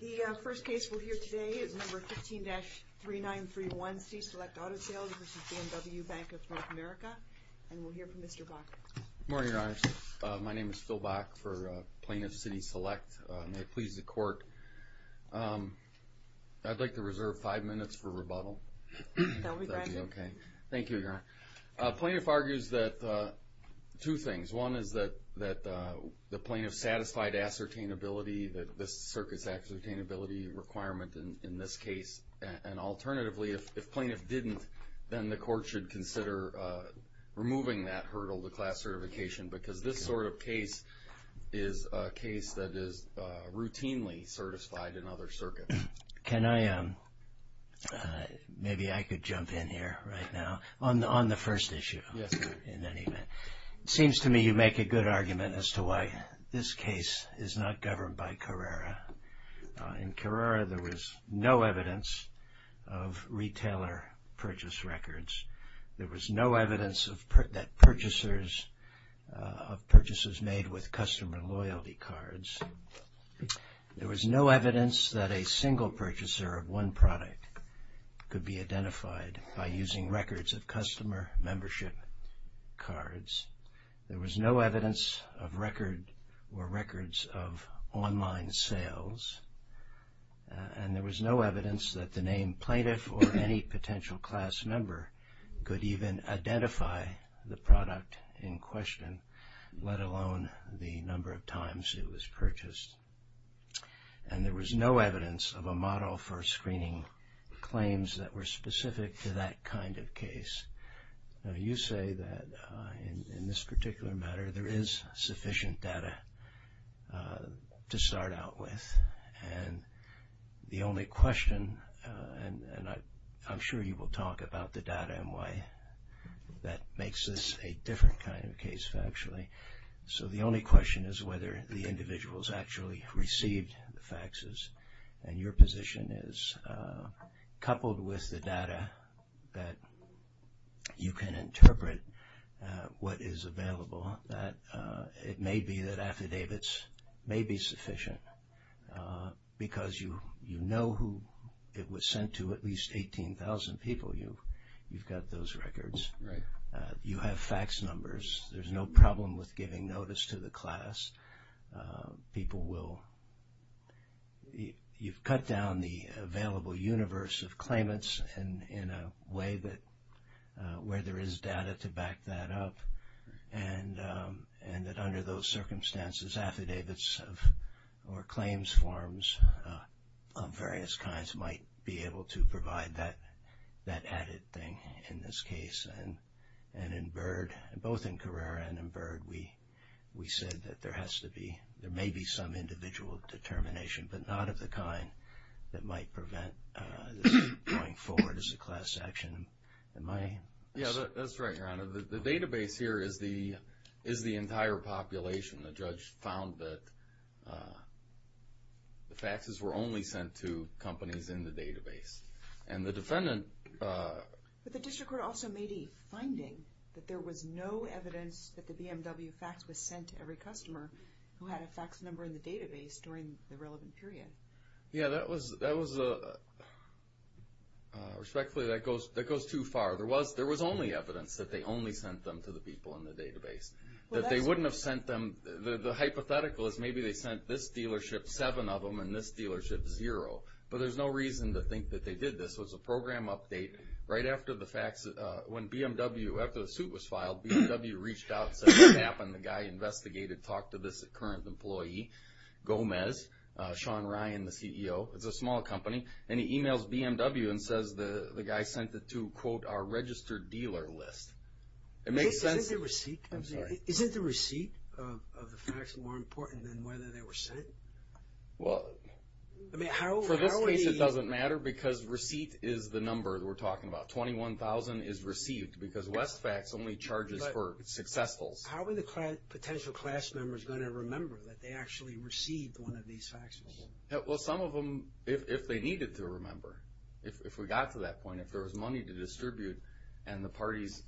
The first case we'll hear today is No. 15-3931 C-Select Auto Sales v. BMW Bank of North America, and we'll hear from Mr. Bock. Good morning, Your Honor. My name is Phil Bock for Plaintiff City Select. May it please the Court, I'd like to reserve five minutes for rebuttal. That will be granted. Okay. Thank you, Your Honor. Plaintiff argues that two things. One is that the plaintiff satisfied ascertainability, that this circuit's ascertainability requirement in this case. And alternatively, if plaintiff didn't, then the Court should consider removing that hurdle, the class certification, because this sort of case is a case that is routinely certified in other circuits. Can I, maybe I could jump in here right now on the first issue. Yes, Your Honor. In any event, it seems to me you make a good argument as to why this case is not governed by Carrera. In Carrera, there was no evidence of retailer purchase records. There was no evidence that purchasers made with customer loyalty cards. There was no evidence that a single purchaser of one product could be identified by using records of customer membership cards. There was no evidence of record or records of online sales. And there was no evidence that the name plaintiff or any potential class member could even identify the product in question, let alone the number of times it was purchased. And there was no evidence of a model for screening claims that were specific to that kind of case. Now, you say that in this particular matter, there is sufficient data to start out with. And the only question, and I'm sure you will talk about the data and why that makes this a different kind of case factually. So the only question is whether the individuals actually received the faxes. And your position is, coupled with the data that you can interpret what is available, that it may be that affidavits may be sufficient. Because you know who it was sent to, at least 18,000 people, you've got those records. Right. You have fax numbers. There's no problem with giving notice to the class. People will, you've cut down the available universe of claimants in a way that where there is data to back that up. And that under those circumstances, affidavits or claims forms of various kinds might be able to provide that added thing in this case. And in Byrd, both in Carrera and in Byrd, we said that there has to be, there may be some individual determination, but not of the kind that might prevent this going forward as a class action. Yeah, that's right, Your Honor. The database here is the entire population. The judge found that the faxes were only sent to companies in the database. And the defendant... But the district court also made a finding that there was no evidence that the BMW fax was sent to every customer who had a fax number in the database during the relevant period. Yeah, that was, respectfully, that goes too far. There was only evidence that they only sent them to the people in the database. That they wouldn't have sent them, the hypothetical is maybe they sent this dealership seven of them and this dealership zero. But there's no reason to think that they did this. It was a program update right after the fax, when BMW, after the suit was filed, BMW reached out and said, what happened, the guy investigated, talked to this current employee, Gomez, Sean Ryan, the CEO. It's a small company. And he emails BMW and says the guy sent it to, quote, our registered dealer list. Isn't the receipt of the fax more important than whether they were sent? Well, for this case it doesn't matter because receipt is the number we're talking about. 21,000 is received because Westfax only charges for successfuls. How are the potential class members going to remember that they actually received one of these faxes? Well, some of them, if they needed to remember, if we got to that point, if there was money to distribute and the parties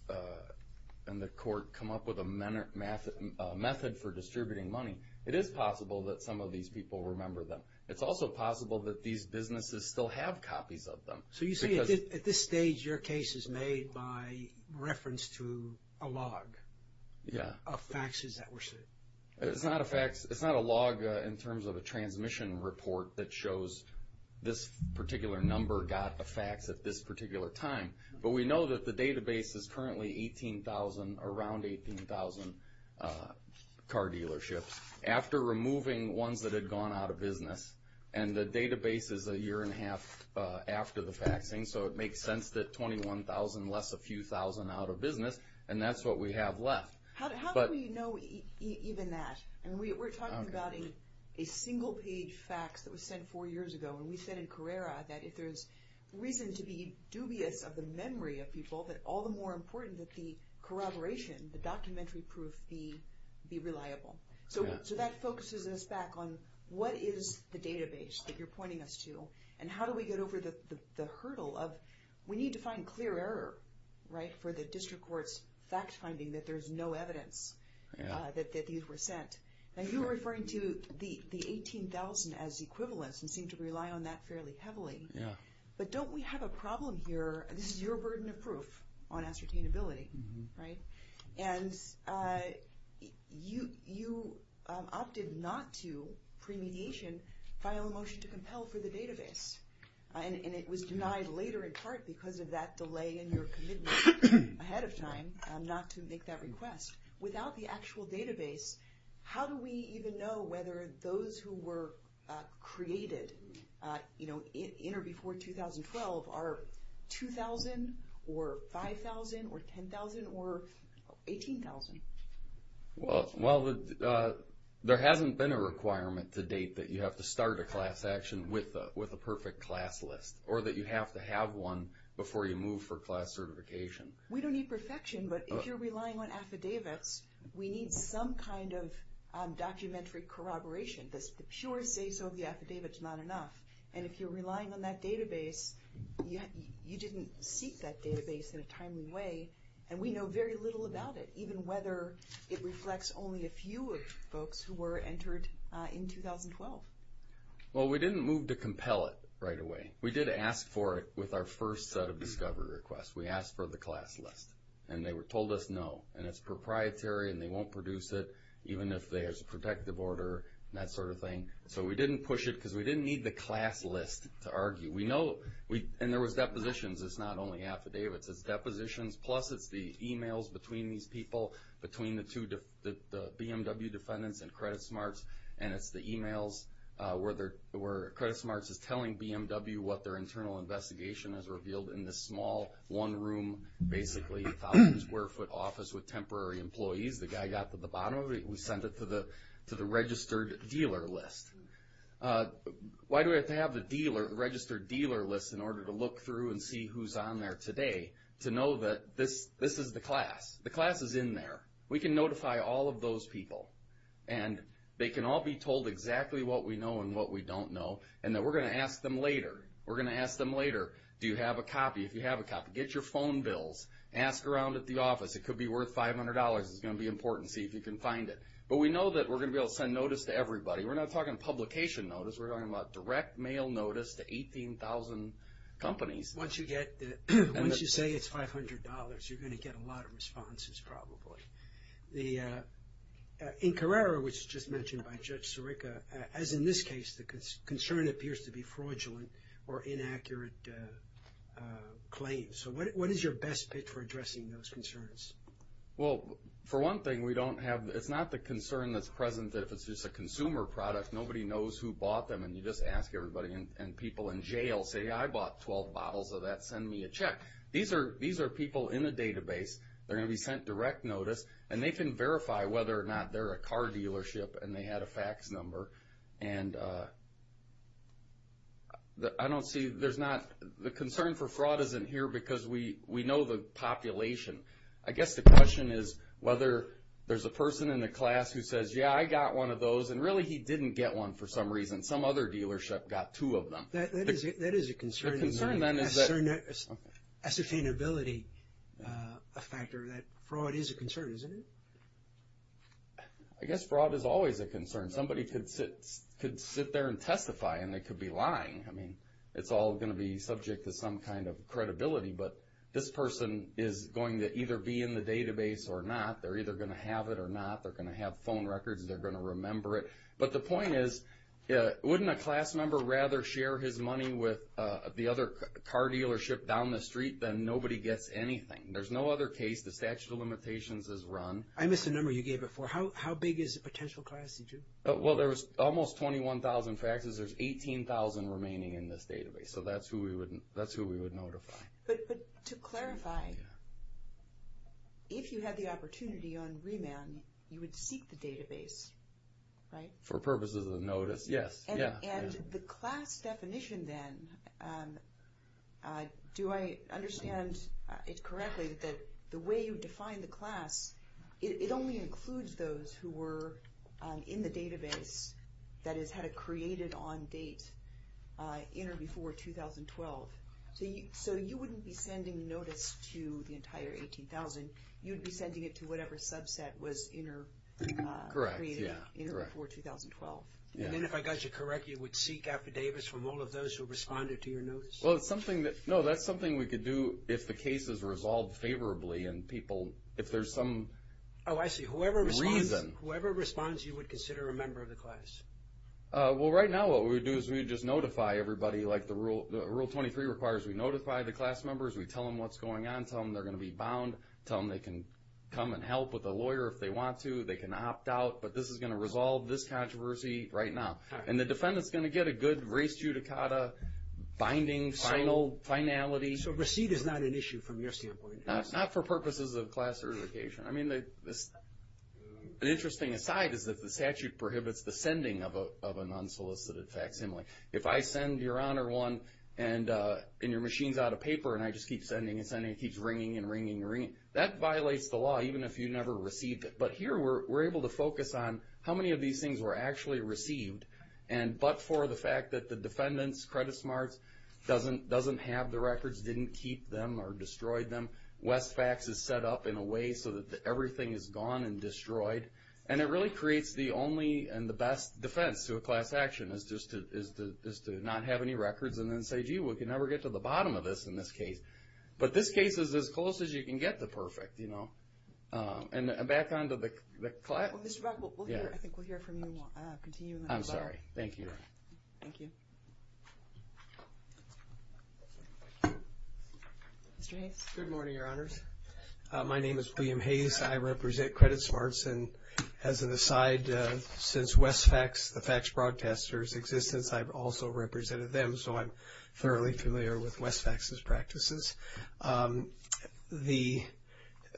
and the court come up with a method for distributing money, it is possible that some of these people remember them. It's also possible that these businesses still have copies of them. So you say at this stage your case is made by reference to a log of faxes that were sent? It's not a fax. It's not a log in terms of a transmission report that shows this particular number got a fax at this particular time. But we know that the database is currently 18,000, around 18,000 car dealerships. After removing ones that had gone out of business, and the database is a year and a half after the faxing, so it makes sense that 21,000, less a few thousand out of business, and that's what we have left. How do we know even that? And we're talking about a single-page fax that was sent four years ago, and we said in Carrera that if there's reason to be dubious of the memory of people, that all the more important that the corroboration, the documentary proof, be reliable. So that focuses us back on what is the database that you're pointing us to, and how do we get over the hurdle of we need to find clear error, right, for the district court's fact-finding that there's no evidence that these were sent. Now you're referring to the 18,000 as equivalence and seem to rely on that fairly heavily. But don't we have a problem here? This is your burden of proof on ascertainability, right? And you opted not to, pre-mediation, file a motion to compel for the database, and it was denied later in part because of that delay in your commitment ahead of time not to make that request. Without the actual database, how do we even know whether those who were created in or before 2012 are 2,000 or 5,000 or 10,000 or 18,000? Well, there hasn't been a requirement to date that you have to start a class action with a perfect class list, or that you have to have one before you move for class certification. We don't need perfection, but if you're relying on affidavits, we need some kind of documentary corroboration. The pure say-so of the affidavit's not enough. And if you're relying on that database, you didn't seek that database in a timely way, and we know very little about it, even whether it reflects only a few of folks who were entered in 2012. Well, we didn't move to compel it right away. We did ask for it with our first set of discovery requests. We asked for the class list, and they told us no. And it's proprietary, and they won't produce it even if there's a protective order, that sort of thing. So we didn't push it because we didn't need the class list to argue. And there was depositions. It's not only affidavits. It's depositions, plus it's the e-mails between these people, between the BMW defendants and Credit Smarts, and it's the e-mails where Credit Smarts is telling BMW what their internal investigation has revealed in this small one-room, basically 1,000-square-foot office with temporary employees. The guy got to the bottom of it. We sent it to the registered dealer list. Why do we have to have the registered dealer list in order to look through and see who's on there today, to know that this is the class? The class is in there. We can notify all of those people, and they can all be told exactly what we know and what we don't know, and that we're going to ask them later. We're going to ask them later, do you have a copy? If you have a copy, get your phone bills. Ask around at the office. It could be worth $500. It's going to be important. See if you can find it. But we know that we're going to be able to send notice to everybody. We're not talking publication notice. We're talking about direct mail notice to 18,000 companies. Once you say it's $500, you're going to get a lot of responses probably. In Carrera, which was just mentioned by Judge Sirica, as in this case, the concern appears to be fraudulent or inaccurate claims. So what is your best pitch for addressing those concerns? Well, for one thing, it's not the concern that's present if it's just a consumer product. Nobody knows who bought them, and you just ask everybody, and people in jail say, I bought 12 bottles of that. Send me a check. These are people in a database. They're going to be sent direct notice, and they can verify whether or not they're a car dealership and they had a fax number. The concern for fraud isn't here because we know the population. I guess the question is whether there's a person in the class who says, yeah, I got one of those, and really he didn't get one for some reason. Some other dealership got two of them. That is a concern. The concern, then, is the ascertainability factor. Fraud is a concern, isn't it? I guess fraud is always a concern. Somebody could sit there and testify, and they could be lying. I mean, it's all going to be subject to some kind of credibility, but this person is going to either be in the database or not. They're either going to have it or not. They're going to have phone records. They're going to remember it. But the point is, wouldn't a class member rather share his money with the other car dealership down the street than nobody gets anything? There's no other case. The statute of limitations is run. I missed a number you gave before. How big is a potential class? Well, there's almost 21,000 faxes. There's 18,000 remaining in this database. So that's who we would notify. But to clarify, if you had the opportunity on remand, you would seek the database, right? For purposes of notice, yes. And the class definition, then, do I understand it correctly that the way you define the class, it only includes those who were in the database, that is, had it created on date in or before 2012. So you wouldn't be sending notice to the entire 18,000. You would be sending it to whatever subset was in or created in or before 2012. And then if I got you correct, you would seek affidavits from all of those who responded to your notice? Well, that's something we could do if the case is resolved favorably and people, if there's some reason. Oh, I see. Whoever responds, you would consider a member of the class. Well, right now what we would do is we would just notify everybody. Rule 23 requires we notify the class members, we tell them what's going on, tell them they're going to be bound, tell them they can come and help with a lawyer if they want to, they can opt out. But this is going to resolve this controversy right now. And the defendant's going to get a good race judicata binding finality. So receipt is not an issue from your standpoint? Not for purposes of class certification. I mean, an interesting aside is that the statute prohibits the sending of an unsolicited facsimile. If I send, Your Honor, one, and your machine's out of paper and I just keep sending and sending, it keeps ringing and ringing and ringing, that violates the law even if you never received it. But here we're able to focus on how many of these things were actually received, but for the fact that the defendant's credit smarts doesn't have the records, didn't keep them or destroyed them. Westfax is set up in a way so that everything is gone and destroyed. And it really creates the only and the best defense to a class action is just to not have any records and then say, gee, we can never get to the bottom of this in this case. But this case is as close as you can get to perfect, you know. And back on to the class. Mr. Buck, I think we'll hear from you. I'm sorry. Thank you. Thank you. Mr. Hayes. Good morning, Your Honors. My name is William Hayes. I represent Credit Smarts. And as an aside, since Westfax, the fax broadcaster's existence, I've also represented them. So I'm thoroughly familiar with Westfax's practices.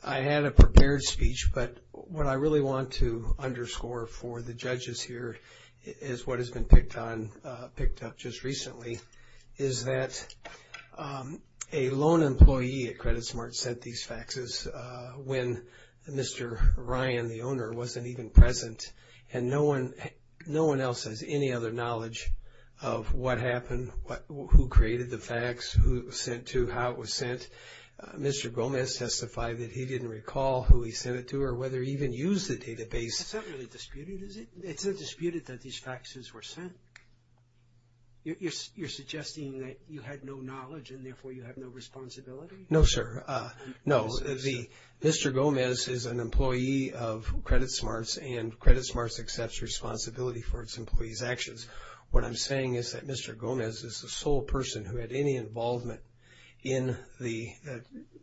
I had a prepared speech. But what I really want to underscore for the judges here is what has been picked up just recently, is that a loan employee at Credit Smarts sent these faxes when Mr. Ryan, the owner, wasn't even present. And no one else has any other knowledge of what happened, who created the fax, who it was sent to, how it was sent. Mr. Gomez testified that he didn't recall who he sent it to or whether he even used the database. That's not really disputed, is it? It's not disputed that these faxes were sent. You're suggesting that you had no knowledge and, therefore, you have no responsibility? No, sir. No, Mr. Gomez is an employee of Credit Smarts, and Credit Smarts accepts responsibility for its employees' actions. What I'm saying is that Mr. Gomez is the sole person who had any involvement in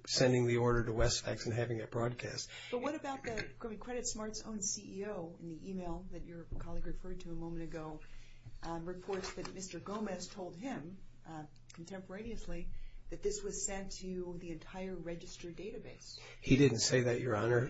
sending the order to Westfax and having it broadcast. But what about the Credit Smarts' own CEO in the e-mail that your colleague referred to a moment ago, reports that Mr. Gomez told him contemporaneously that this was sent to the entire registered database? He didn't say that, Your Honor.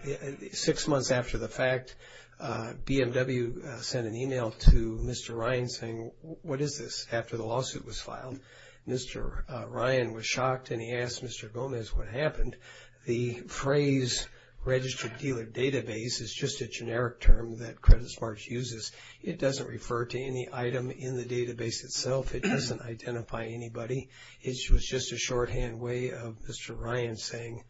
Six months after the fact, BMW sent an e-mail to Mr. Ryan saying, what is this, after the lawsuit was filed? Mr. Ryan was shocked, and he asked Mr. Gomez what happened. The phrase registered dealer database is just a generic term that Credit Smarts uses. It doesn't refer to any item in the database itself. It doesn't identify anybody. It was just a shorthand way of Mr. Ryan saying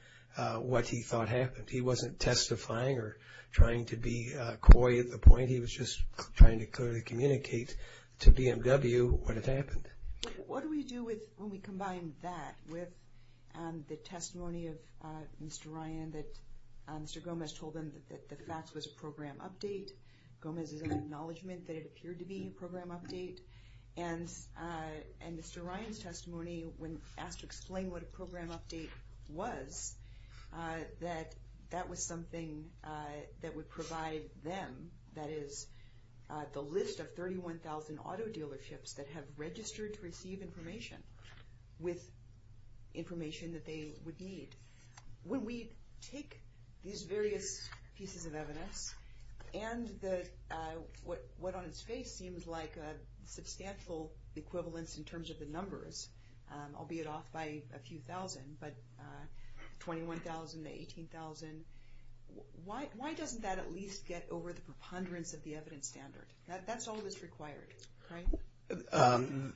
what he thought happened. He wasn't testifying or trying to be coy at the point. He was just trying to clearly communicate to BMW what had happened. What do we do when we combine that with the testimony of Mr. Ryan that Mr. Gomez told him that the fax was a program update? Gomez is in acknowledgment that it appeared to be a program update. And Mr. Ryan's testimony, when asked to explain what a program update was, that that was something that would provide them, that is, the list of 31,000 auto dealerships that have registered to receive information with information that they would need. When we take these various pieces of evidence and what on its face seems like a substantial equivalence in terms of the numbers, albeit off by a few thousand, but 21,000 to 18,000, why doesn't that at least get over the preponderance of the evidence standard? That's all that's required, right?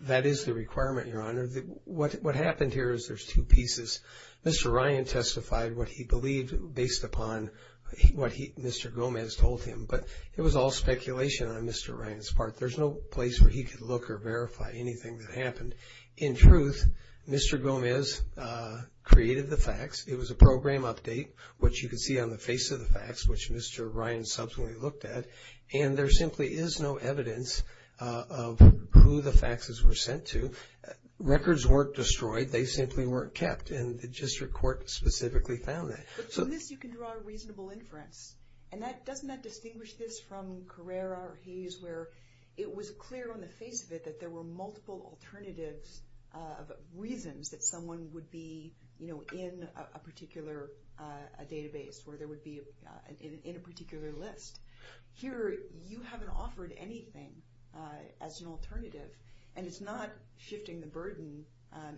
That is the requirement, Your Honor. What happened here is there's two pieces. Mr. Ryan testified what he believed based upon what Mr. Gomez told him. But it was all speculation on Mr. Ryan's part. There's no place where he could look or verify anything that happened. In truth, Mr. Gomez created the fax. It was a program update, which you can see on the face of the fax, which Mr. Ryan subsequently looked at. And there simply is no evidence of who the faxes were sent to. Records weren't destroyed. They simply weren't kept. And the district court specifically found that. But from this you can draw a reasonable inference. And doesn't that distinguish this from Carrera or Hayes where it was clear on the face of it that there were multiple alternatives of reasons that someone would be in a particular database, where there would be in a particular list. Here you haven't offered anything as an alternative. And it's not shifting the burden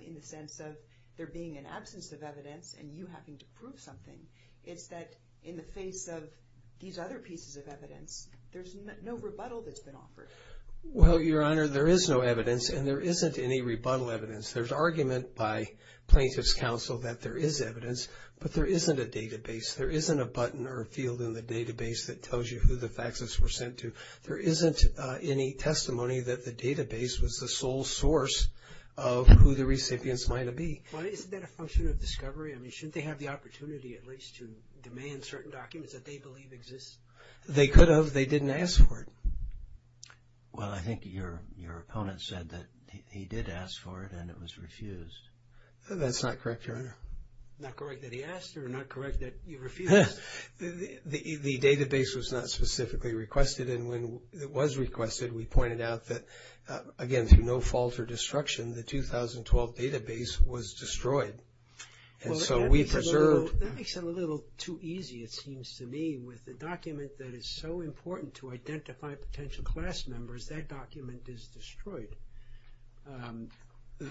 in the sense of there being an absence of evidence and you having to prove something. It's that in the face of these other pieces of evidence, there's no rebuttal that's been offered. Well, Your Honor, there is no evidence. And there isn't any rebuttal evidence. There's argument by plaintiff's counsel that there is evidence. But there isn't a database. There isn't a button or a field in the database that tells you who the faxes were sent to. There isn't any testimony that the database was the sole source of who the recipients might have been. Well, isn't that a function of discovery? I mean, shouldn't they have the opportunity at least to demand certain documents that they believe exist? They could have. They didn't ask for it. Well, I think your opponent said that he did ask for it and it was refused. That's not correct, Your Honor. Not correct that he asked or not correct that you refused? The database was not specifically requested. And when it was requested, we pointed out that, again, through no fault or destruction, the 2012 database was destroyed. And so we preserved. That makes it a little too easy, it seems to me. With a document that is so important to identify potential class members, that document is destroyed.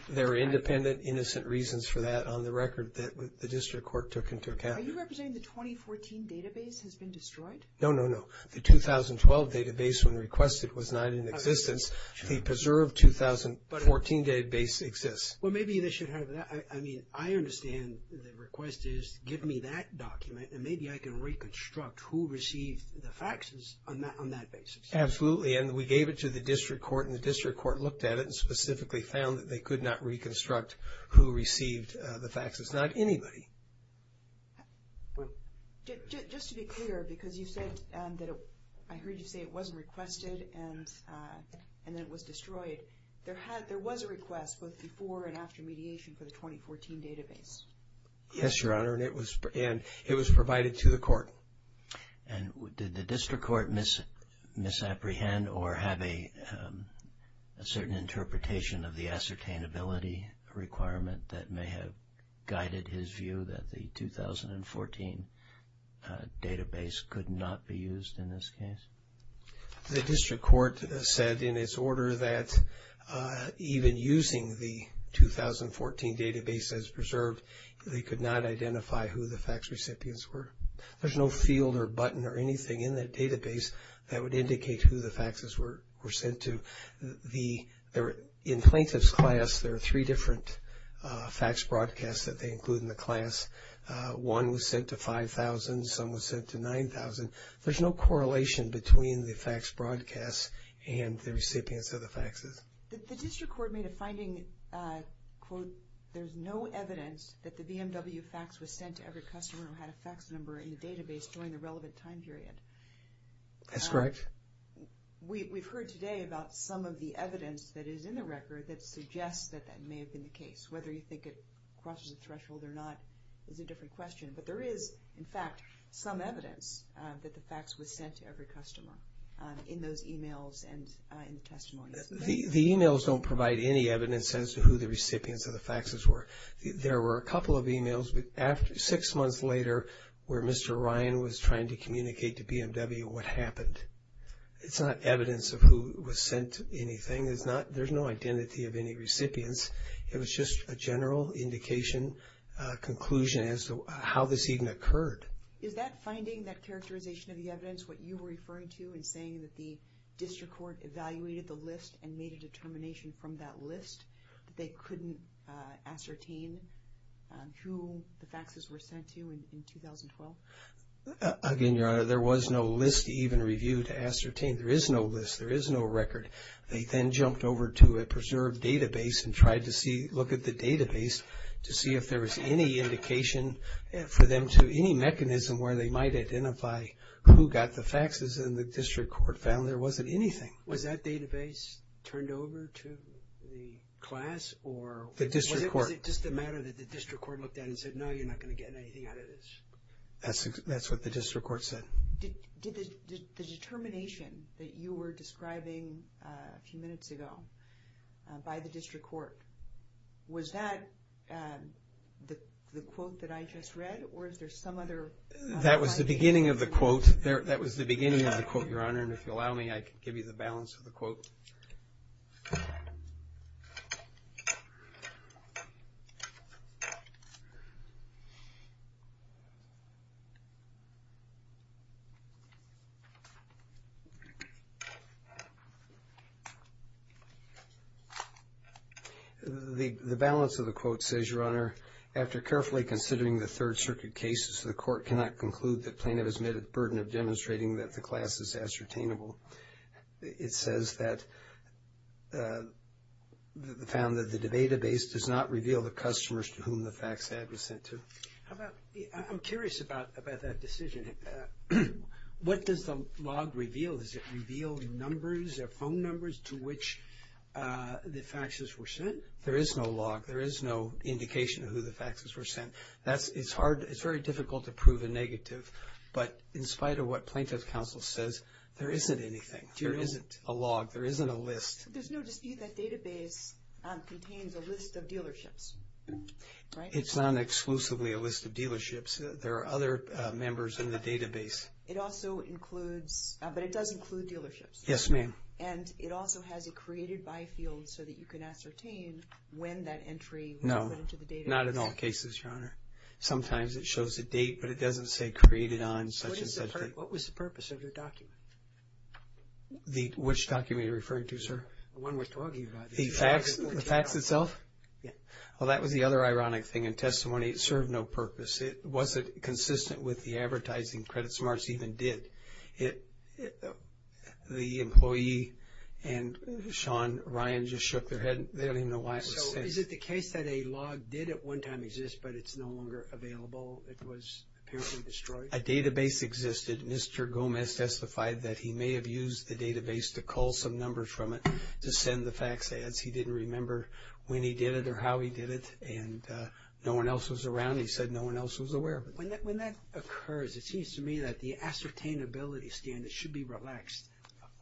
There are independent, innocent reasons for that on the record that the district court took into account. Are you representing the 2014 database has been destroyed? No, no, no. The 2012 database when requested was not in existence. The preserved 2014 database exists. Well, maybe they should have that. I mean, I understand the request is give me that document and maybe I can reconstruct who received the faxes on that basis. Absolutely. And we gave it to the district court and the district court looked at it and specifically found that they could not reconstruct who received the faxes. Not anybody. Just to be clear, because you said that I heard you say it wasn't requested and that it was destroyed. There was a request both before and after mediation for the 2014 database. Yes, Your Honor, and it was provided to the court. And did the district court misapprehend or have a certain interpretation of the ascertainability requirement that may have guided his view that the 2014 database could not be used in this case? The district court said in its order that even using the 2014 database as preserved, they could not identify who the fax recipients were. There's no field or button or anything in that database that would indicate who the faxes were sent to. In plaintiff's class, there are three different fax broadcasts that they include in the class. One was sent to 5,000. Some was sent to 9,000. There's no correlation between the fax broadcasts and the recipients of the faxes. The district court made a finding, quote, there's no evidence that the BMW fax was sent to every customer who had a fax number in the database during the relevant time period. That's correct. We've heard today about some of the evidence that is in the record that suggests that that may have been the case. Whether you think it crosses the threshold or not is a different question. But there is, in fact, some evidence that the fax was sent to every customer in those emails and in the testimony. The emails don't provide any evidence as to who the recipients of the faxes were. There were a couple of emails six months later where Mr. Ryan was trying to communicate to BMW what happened. It's not evidence of who was sent anything. There's no identity of any recipients. It was just a general indication, conclusion as to how this even occurred. Is that finding, that characterization of the evidence, what you were referring to in saying that the district court evaluated the list and made a determination from that list that they couldn't ascertain who the faxes were sent to in 2012? Again, Your Honor, there was no list even reviewed to ascertain. There is no list. There is no record. They then jumped over to a preserved database and tried to look at the database to see if there was any indication for them to any mechanism where they might identify who got the faxes. And the district court found there wasn't anything. Was that database turned over to the class or was it just a matter that the district court looked at and said, no, you're not going to get anything out of this? That's what the district court said. The determination that you were describing a few minutes ago by the district court, was that the quote that I just read or is there some other? That was the beginning of the quote. That was the beginning of the quote, Your Honor, and if you'll allow me, I can give you the balance of the quote. The balance of the quote says, Your Honor, after carefully considering the Third Circuit cases, the court cannot conclude that plaintiff has met a burden of demonstrating that the class is ascertainable. It says that found that the database does not reveal the customers to whom the fax ad was sent to. I'm curious about that decision. What does the log reveal? Does it reveal numbers or phone numbers to which the faxes were sent? There is no log. There is no indication of who the faxes were sent. It's very difficult to prove a negative, but in spite of what plaintiff's counsel says, there isn't anything. There isn't a log. There isn't a list. There's no dispute that database contains a list of dealerships, right? It's not exclusively a list of dealerships. There are other members in the database. It also includes, but it does include dealerships. Yes, ma'am. And it also has a created by field so that you can ascertain when that entry was put into the database. No, not in all cases, Your Honor. Sometimes it shows a date, but it doesn't say created on such and such date. What was the purpose of your document? Which document are you referring to, sir? The one we're talking about. The fax itself? Yes. Well, that was the other ironic thing in testimony. It served no purpose. It wasn't consistent with the advertising Credit Smarts even did. The employee and Sean Ryan just shook their head. They don't even know why it was sent. So is it the case that a log did at one time exist, but it's no longer available? It was apparently destroyed? A database existed. Mr. Gomez testified that he may have used the database to call some numbers from it to send the fax ads. He didn't remember when he did it or how he did it, and no one else was around. He said no one else was aware of it. When that occurs, it seems to me that the ascertainability standard should be relaxed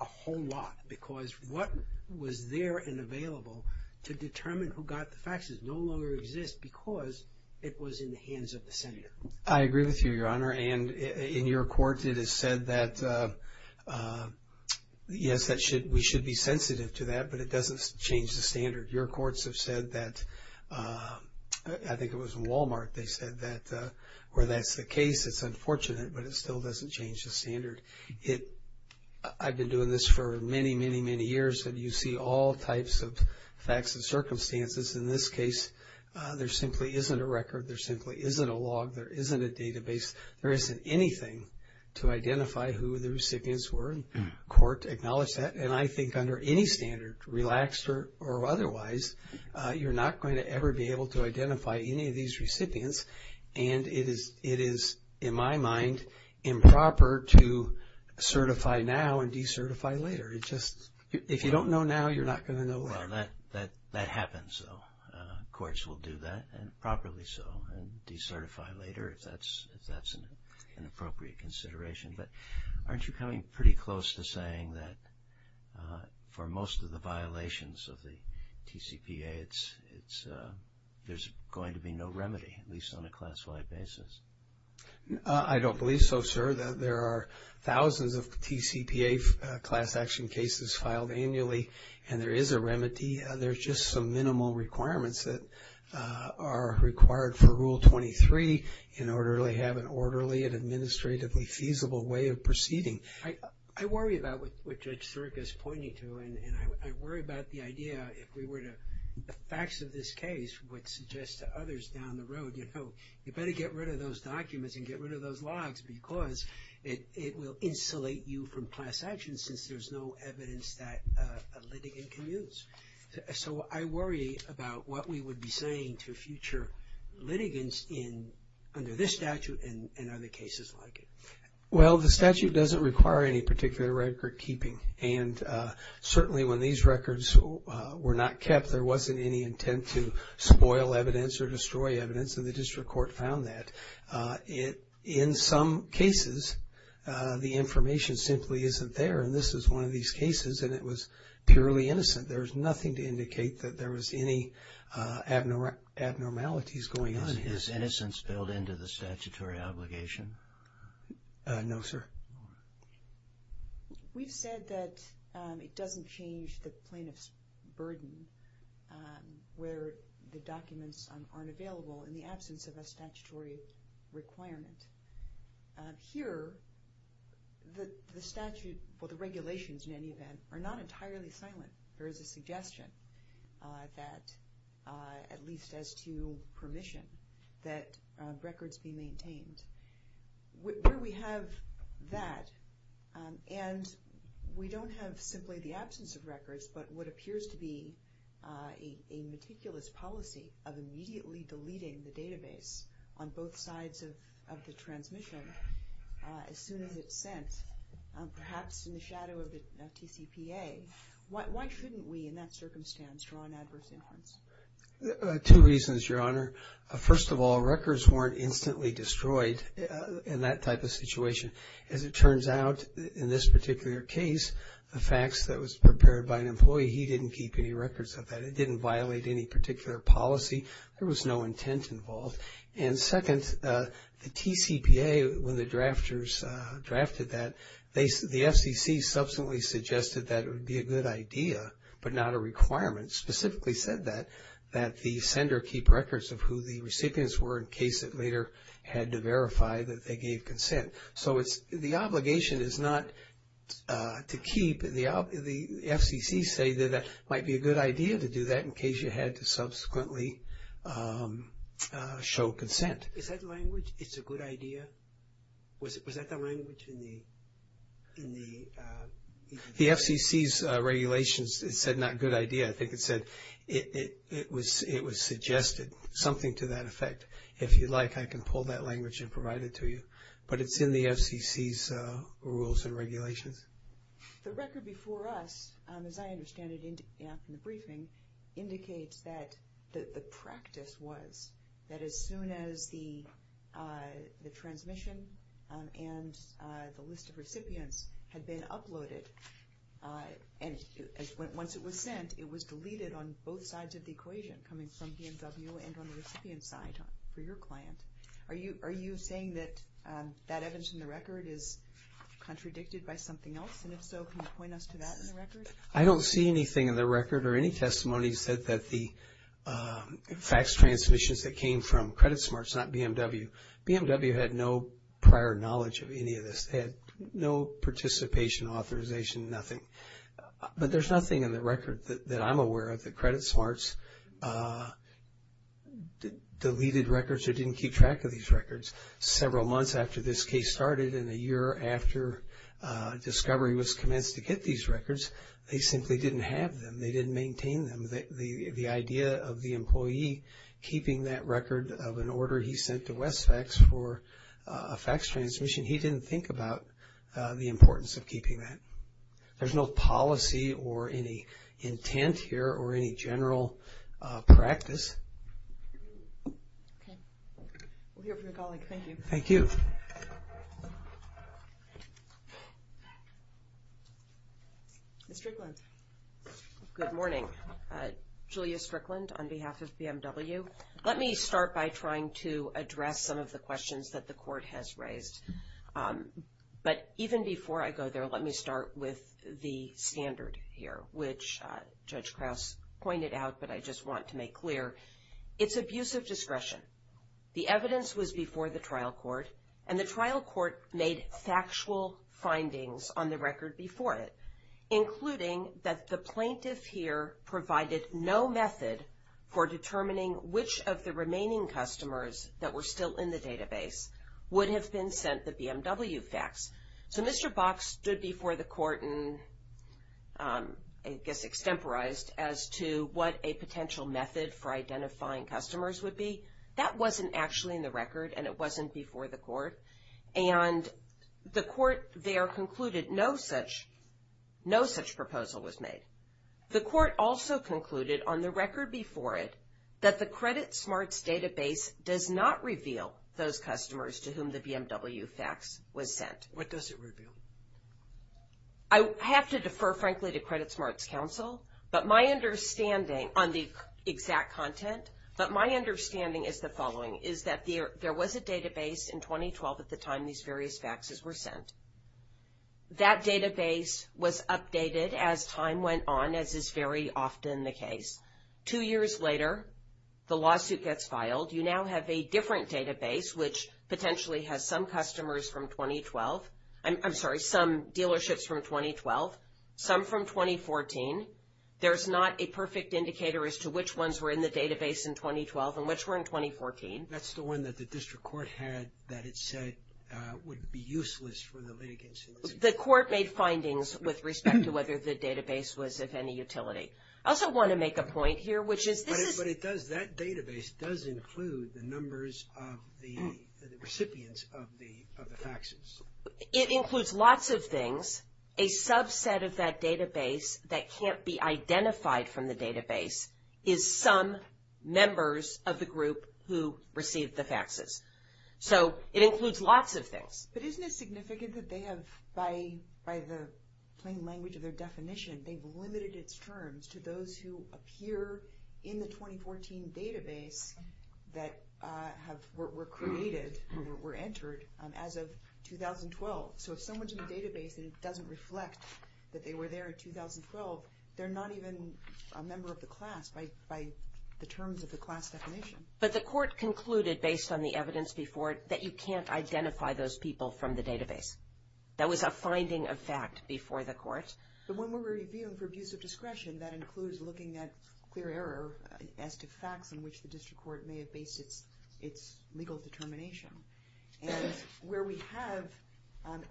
a whole lot because what was there and available to determine who got the faxes no longer exists because it was in the hands of the senator. I agree with you, Your Honor. And in your court, it is said that, yes, we should be sensitive to that, but it doesn't change the standard. Your courts have said that, I think it was in Walmart, they said that where that's the case, it's unfortunate, but it still doesn't change the standard. I've been doing this for many, many, many years, and you see all types of facts and circumstances. In this case, there simply isn't a record. There simply isn't a log. There isn't a database. There isn't anything to identify who the recipients were. The court acknowledged that, and I think under any standard, relaxed or otherwise, you're not going to ever be able to identify any of these recipients, and it is, in my mind, improper to certify now and decertify later. If you don't know now, you're not going to know later. Well, that happens, though. Courts will do that, and properly so, and decertify later if that's an appropriate consideration. But aren't you coming pretty close to saying that for most of the violations of the TCPA, there's going to be no remedy, at least on a class-wide basis? I don't believe so, sir. There are thousands of TCPA class action cases filed annually, and there is a remedy. There's just some minimal requirements that are required for Rule 23 in order to have an orderly and administratively feasible way of proceeding. I worry about what Judge Sirica is pointing to, and I worry about the idea if we were to – the facts of this case would suggest to others down the road, you know, you better get rid of those documents and get rid of those logs because it will insulate you from class action since there's no evidence that a litigant can use. So I worry about what we would be saying to future litigants under this statute and other cases like it. Well, the statute doesn't require any particular record keeping, and certainly when these records were not kept, there wasn't any intent to spoil evidence or destroy evidence, and the district court found that. In some cases, the information simply isn't there, and this is one of these cases, and it was purely innocent. There was nothing to indicate that there was any abnormalities going on here. Is innocence filled into the statutory obligation? No, sir. We've said that it doesn't change the plaintiff's burden where the documents aren't available in the absence of a statutory requirement. Here, the statute, or the regulations in any event, are not entirely silent. There is a suggestion that, at least as to permission, that records be maintained. Where we have that, and we don't have simply the absence of records, but what appears to be a meticulous policy of immediately deleting the database on both sides of the transmission as soon as it's sent, perhaps in the shadow of the TCPA, why shouldn't we, in that circumstance, draw an adverse influence? Two reasons, Your Honor. First of all, records weren't instantly destroyed in that type of situation. As it turns out, in this particular case, the facts that was prepared by an employee, he didn't keep any records of that. It didn't violate any particular policy. There was no intent involved. And second, the TCPA, when the drafters drafted that, the FCC subsequently suggested that it would be a good idea, but not a requirement, specifically said that, that the sender keep records of who the recipients were in case it later had to verify that they gave consent. So the obligation is not to keep. The FCC say that it might be a good idea to do that in case you had to subsequently show consent. Is that language, it's a good idea? Was that the language in the? The FCC's regulations, it said not good idea. I think it said it was suggested, something to that effect. If you'd like, I can pull that language and provide it to you. But it's in the FCC's rules and regulations. The record before us, as I understand it in the briefing, indicates that the practice was that as soon as the transmission and the list of recipients had been uploaded, and once it was sent, it was deleted on both sides of the equation, coming from BMW and on the recipient side for your client. Are you saying that that evidence in the record is contradicted by something else? And if so, can you point us to that in the record? I don't see anything in the record or any testimony that said that the fax transmissions that came from Credit Smarts, not BMW. BMW had no prior knowledge of any of this. They had no participation authorization, nothing. But there's nothing in the record that I'm aware of that Credit Smarts deleted records or didn't keep track of these records. Several months after this case started and a year after discovery was commenced to get these records, they simply didn't have them. They didn't maintain them. The idea of the employee keeping that record of an order he sent to Westfax for a fax transmission, he didn't think about the importance of keeping that. There's no policy or any intent here or any general practice. Okay. We'll hear from a colleague. Thank you. Thank you. Ms. Strickland. Good morning. Julia Strickland on behalf of BMW. Let me start by trying to address some of the questions that the court has raised. But even before I go there, let me start with the standard here, which Judge Krause pointed out, but I just want to make clear. It's abusive discretion. The evidence was before the trial court, and the trial court made factual findings on the record before it, including that the plaintiff here provided no method for determining which of the So Mr. Bach stood before the court and, I guess, extemporized as to what a potential method for identifying customers would be. That wasn't actually in the record, and it wasn't before the court. And the court there concluded no such proposal was made. The court also concluded on the record before it that the Credit Smarts database does not reveal those customers to whom the BMW fax was sent. What does it reveal? I have to defer, frankly, to Credit Smarts counsel. But my understanding on the exact content, but my understanding is the following, is that there was a database in 2012 at the time these various faxes were sent. That database was updated as time went on, as is very often the case. Two years later, the lawsuit gets filed. You now have a different database, which potentially has some customers from 2012. I'm sorry, some dealerships from 2012, some from 2014. There's not a perfect indicator as to which ones were in the database in 2012 and which were in 2014. That's the one that the district court had that it said would be useless for the litigants. The court made findings with respect to whether the database was of any utility. I also want to make a point here, which is this is... But it does, that database does include the numbers of the recipients of the faxes. It includes lots of things. A subset of that database that can't be identified from the database is some members of the group who received the faxes. So it includes lots of things. But isn't it significant that they have, by the plain language of their definition, they've limited its terms to those who appear in the 2014 database that were created or were entered as of 2012? So if someone's in the database and it doesn't reflect that they were there in 2012, they're not even a member of the class by the terms of the class definition. But the court concluded, based on the evidence before it, that you can't identify those people from the database. That was a finding of fact before the court. But when we're reviewing for abuse of discretion, that includes looking at clear error as to facts in which the district court may have based its legal determination. And where we have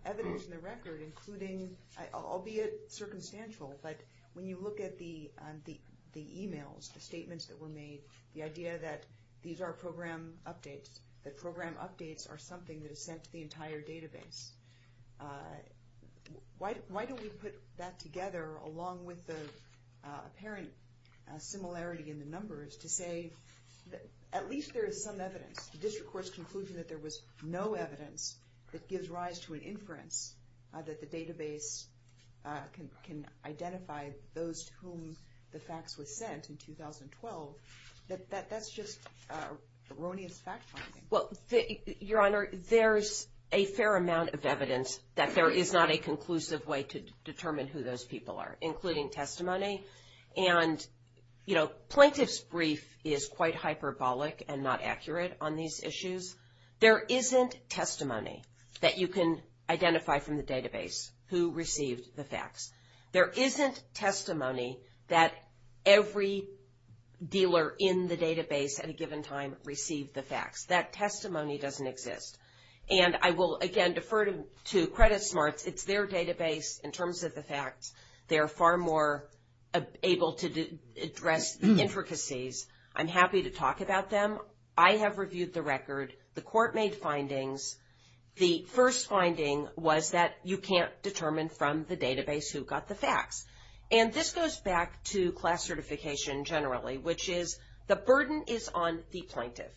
evidence in the record, including albeit circumstantial, but when you look at the e-mails, the statements that were made, the idea that these are program updates, that program updates are something that is sent to the entire database. Why don't we put that together along with the apparent similarity in the numbers to say that at least there is some evidence. The district court's conclusion that there was no evidence that gives rise to an inference that the database can identify those to whom the facts were sent in 2012, that that's just erroneous fact finding. Well, Your Honor, there's a fair amount of evidence that there is not a conclusive way to determine who those people are, including testimony. And, you know, plaintiff's brief is quite hyperbolic and not accurate on these issues. There isn't testimony that you can identify from the database who received the facts. There isn't testimony that every dealer in the database at a given time received the facts. That testimony doesn't exist. And I will, again, defer to Credit Smarts. It's their database in terms of the facts. They're far more able to address the intricacies. I'm happy to talk about them. I have reviewed the record. The court made findings. The first finding was that you can't determine from the database who got the facts. And this goes back to class certification generally, which is the burden is on the plaintiff,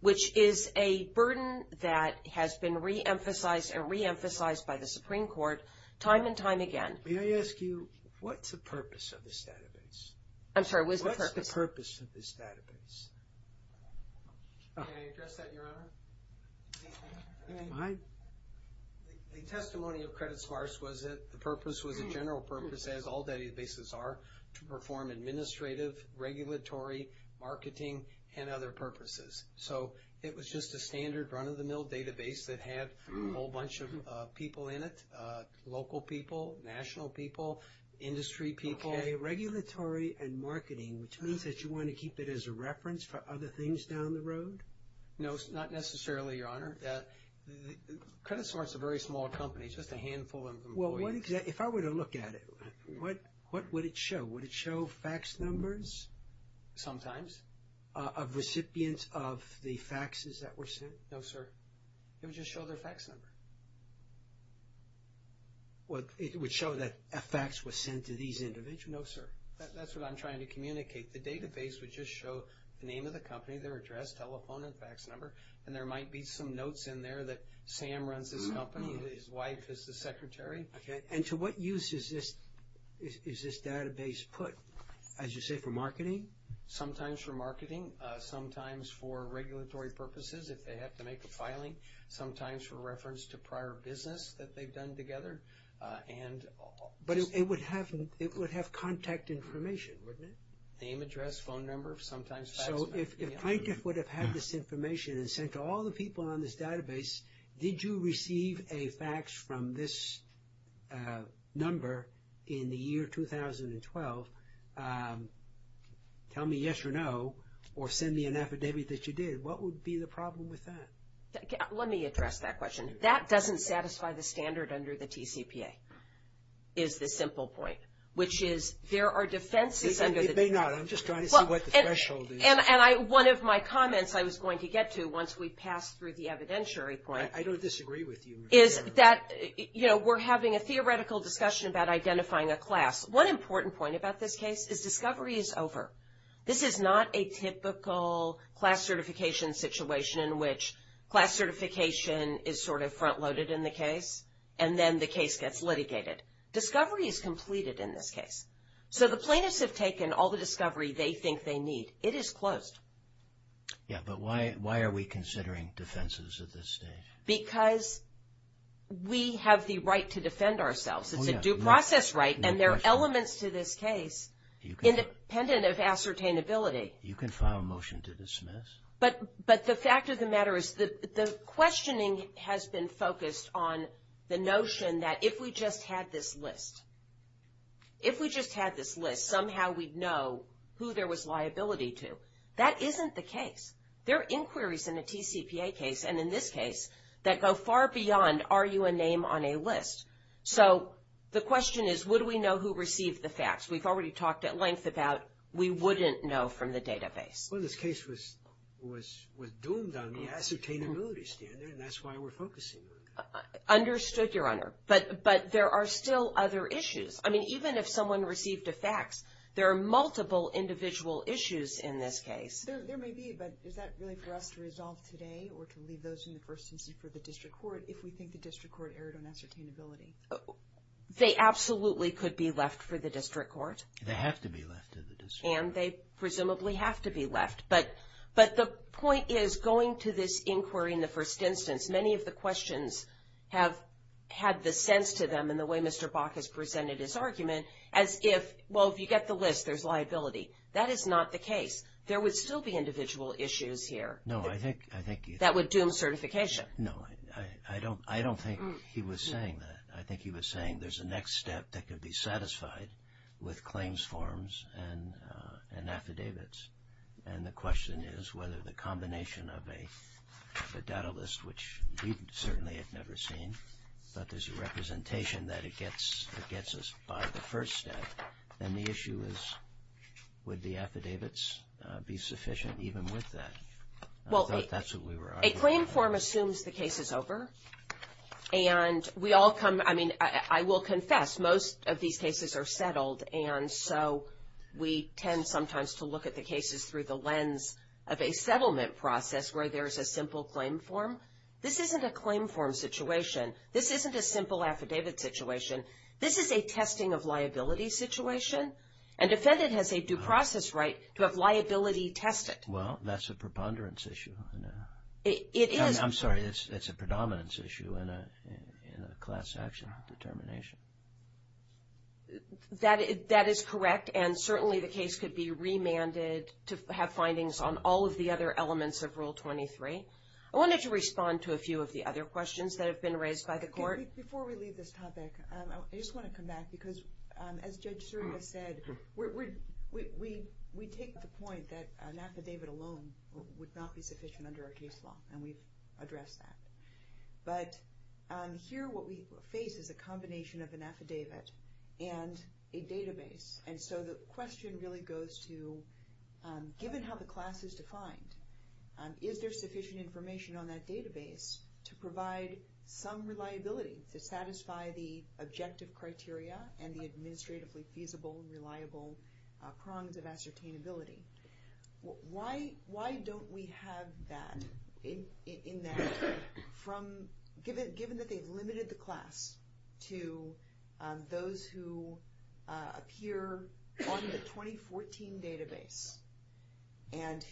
which is a burden that has been reemphasized and reemphasized by the Supreme Court time and time again. May I ask you, what's the purpose of this database? I'm sorry, what is the purpose? What's the purpose of this database? Can I address that, Your Honor? Go ahead. The testimony of Credit Smarts was that the purpose was a general purpose, as all databases are, to perform administrative, regulatory, marketing, and other purposes. So it was just a standard run-of-the-mill database that had a whole bunch of people in it, local people, national people, industry people. Regulatory and marketing, which means that you want to keep it as a reference for other things down the road? No, not necessarily, Your Honor. Credit Smarts is a very small company, just a handful of employees. Well, if I were to look at it, what would it show? Would it show fax numbers? Sometimes. Of recipients of the faxes that were sent? No, sir. It would just show their fax number. It would show that a fax was sent to these individuals? No, sir. That's what I'm trying to communicate. The database would just show the name of the company, their address, telephone, and fax number, and there might be some notes in there that Sam runs this company, his wife is the secretary. And to what use is this database put? As you say, for marketing? Sometimes for marketing, sometimes for regulatory purposes if they have to make a filing, sometimes for reference to prior business that they've done together. But it would have contact information, wouldn't it? Name, address, phone number, sometimes fax number. If plaintiff would have had this information and sent to all the people on this database, did you receive a fax from this number in the year 2012, tell me yes or no, or send me an affidavit that you did, what would be the problem with that? Let me address that question. That doesn't satisfy the standard under the TCPA, is the simple point, which is there are defenses under the TCPA. It may not. I'm just trying to see what the threshold is. And one of my comments I was going to get to once we pass through the evidentiary point. I don't disagree with you. Is that, you know, we're having a theoretical discussion about identifying a class. One important point about this case is discovery is over. This is not a typical class certification situation in which class certification is sort of front loaded in the case, and then the case gets litigated. Discovery is completed in this case. So the plaintiffs have taken all the discovery they think they need. It is closed. Yeah, but why are we considering defenses at this stage? Because we have the right to defend ourselves. It's a due process right, and there are elements to this case independent of ascertainability. You can file a motion to dismiss. But the fact of the matter is the questioning has been focused on the notion that if we just had this list, if we just had this list, somehow we'd know who there was liability to. That isn't the case. There are inquiries in a TCPA case, and in this case, that go far beyond are you a name on a list. So the question is would we know who received the facts? We've already talked at length about we wouldn't know from the database. Well, this case was doomed on the ascertainability standard, and that's why we're focusing on that. Understood, Your Honor, but there are still other issues. I mean, even if someone received the facts, there are multiple individual issues in this case. There may be, but is that really for us to resolve today or to leave those in the first instance for the district court if we think the district court erred on ascertainability? They absolutely could be left for the district court. They have to be left to the district court. And they presumably have to be left, but the point is going to this inquiry in the first instance, many of the questions have had the sense to them in the way Mr. Bach has presented his argument as if, well, if you get the list, there's liability. That is not the case. There would still be individual issues here. No, I think you'd think. That would doom certification. No, I don't think he was saying that. I think he was saying there's a next step that could be satisfied with claims forms and affidavits. And the question is whether the combination of a data list, which we certainly have never seen, but there's a representation that it gets us by the first step, then the issue is would the affidavits be sufficient even with that? I thought that's what we were arguing. Well, a claim form assumes the case is over. And we all come, I mean, I will confess, most of these cases are settled, and so we tend sometimes to look at the cases through the lens of a settlement process where there's a simple claim form. This isn't a claim form situation. This isn't a simple affidavit situation. This is a testing of liability situation, and defendant has a due process right to have liability tested. Well, that's a preponderance issue. It is. I'm sorry, it's a predominance issue in a class action determination. That is correct. And certainly the case could be remanded to have findings on all of the other elements of Rule 23. I wanted to respond to a few of the other questions that have been raised by the court. Before we leave this topic, I just want to come back because, as Judge Suria said, we take the point that an affidavit alone would not be sufficient under our case law, and we've addressed that. But here what we face is a combination of an affidavit and a database, and so the question really goes to, given how the class is defined, is there sufficient information on that database to provide some reliability to satisfy the objective criteria and the administratively feasible and reliable prongs of ascertainability? Why don't we have that in that, given that they've limited the class to those who appear on the 2014 database and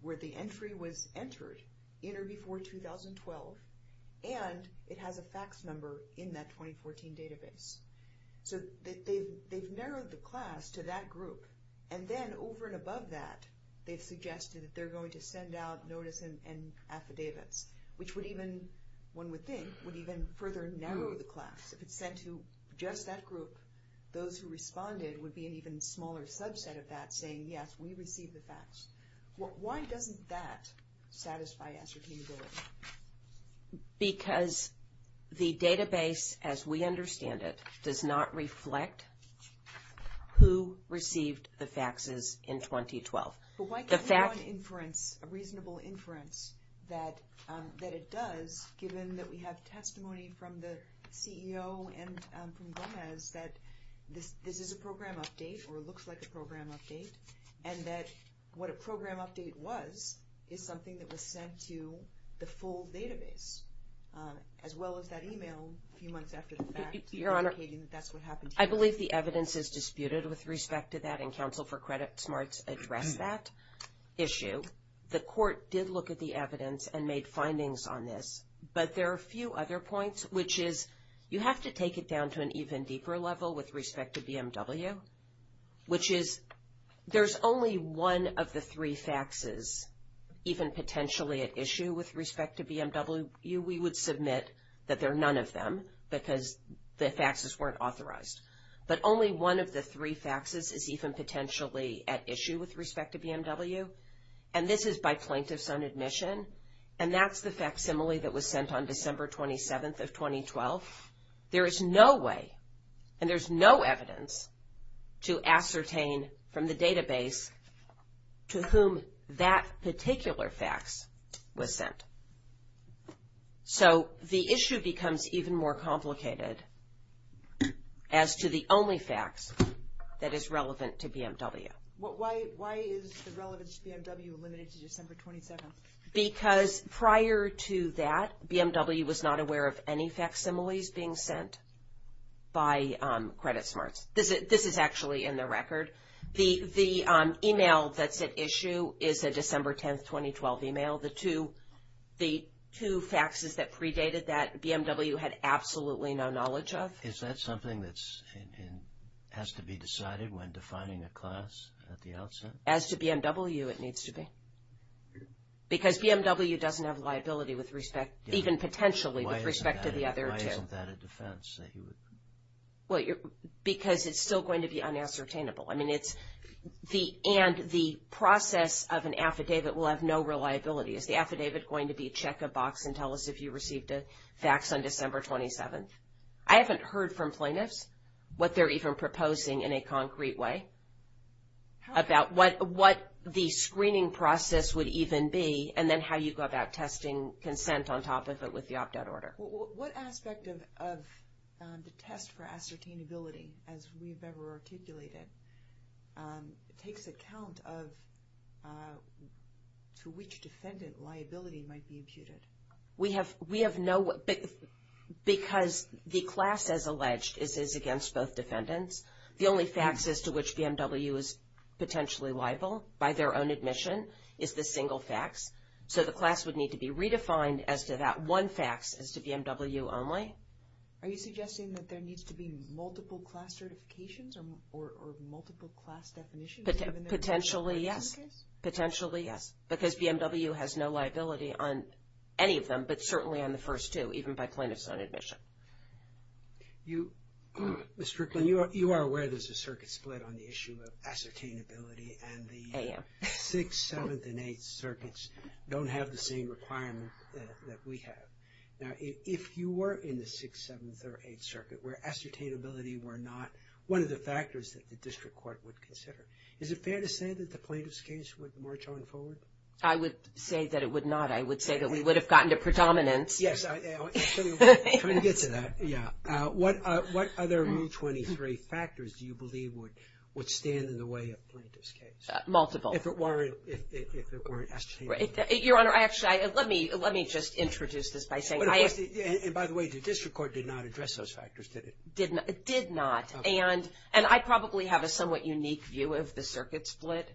where the entry was entered in or before 2012, and it has a fax number in that 2014 database? So they've narrowed the class to that group, and then over and above that, they've suggested that they're going to send out notice and affidavits, which would even, one would think, would even further narrow the class. If it's sent to just that group, those who responded would be an even smaller subset of that saying, yes, we received the fax. Why doesn't that satisfy ascertainability? Because the database, as we understand it, does not reflect who received the faxes in 2012. But why give you an inference, a reasonable inference that it does, given that we have testimony from the CEO and from Gomez that this is a program update or it looks like a program update, and that what a program update was is something that was sent to the full database, as well as that email a few months after the fax indicating that that's what happened here. Your Honor, I believe the evidence is disputed with respect to that, and Counsel for Credit Smarts addressed that issue. The court did look at the evidence and made findings on this, but there are a few other points, which is you have to take it down to an even deeper level with respect to BMW, which is there's only one of the three faxes even potentially at issue with respect to BMW. We would submit that there are none of them because the faxes weren't authorized. But only one of the three faxes is even potentially at issue with respect to BMW, and this is by plaintiffs on admission, and that's the facsimile that was sent on December 27th of 2012. There is no way and there's no evidence to ascertain from the database to whom that particular fax was sent. So the issue becomes even more complicated as to the only fax that is relevant to BMW. Why is the relevance to BMW limited to December 22nd? Because prior to that, BMW was not aware of any facsimiles being sent by Credit Smarts. This is actually in the record. The email that's at issue is a December 10th, 2012 email. The two faxes that predated that, BMW had absolutely no knowledge of. Is that something that has to be decided when defining a class at the outset? As to BMW, it needs to be. Because BMW doesn't have liability with respect, even potentially with respect to the other two. Why isn't that a defense? Well, because it's still going to be unascertainable. I mean, it's the – and the process of an affidavit will have no reliability. Is the affidavit going to be check a box and tell us if you received a fax on December 27th? I haven't heard from plaintiffs what they're even proposing in a concrete way about what the screening process would even be and then how you go about testing consent on top of it with the opt-out order. What aspect of the test for ascertainability, as we've ever articulated, takes account of to which defendant liability might be imputed? We have no – because the class, as alleged, is against both defendants. The only fax as to which BMW is potentially liable by their own admission is the single fax. So the class would need to be redefined as to that one fax as to BMW only. Are you suggesting that there needs to be multiple class certifications or multiple class definitions given their origin case? Potentially, yes. Because BMW has no liability on any of them, but certainly on the first two, even by plaintiff's own admission. Ms. Strickland, you are aware there's a circuit split on the issue of ascertainability and the 6th, 7th, and 8th circuits don't have the same requirement that we have. Now, if you were in the 6th, 7th, or 8th circuit where ascertainability were not one of the factors that the district court would consider, is it fair to say that the plaintiff's case would march on forward? I would say that it would not. I would say that we would have gotten to predominance. Yes. I'm trying to get to that. Yeah. What other Mu23 factors do you believe would stand in the way of plaintiff's case? Multiple. If it weren't ascertainability. Your Honor, actually, let me just introduce this by saying I – And by the way, the district court did not address those factors, did it? Did not. And I probably have a somewhat unique view of the circuit split.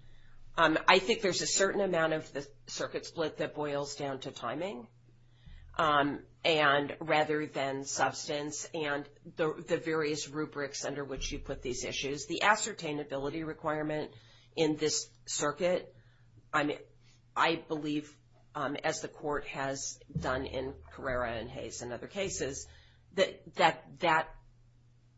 I think there's a certain amount of the circuit split that boils down to timing rather than substance and the various rubrics under which you put these issues. The ascertainability requirement in this circuit, I believe, as the court has done in Carrera and Hayes and other cases, that that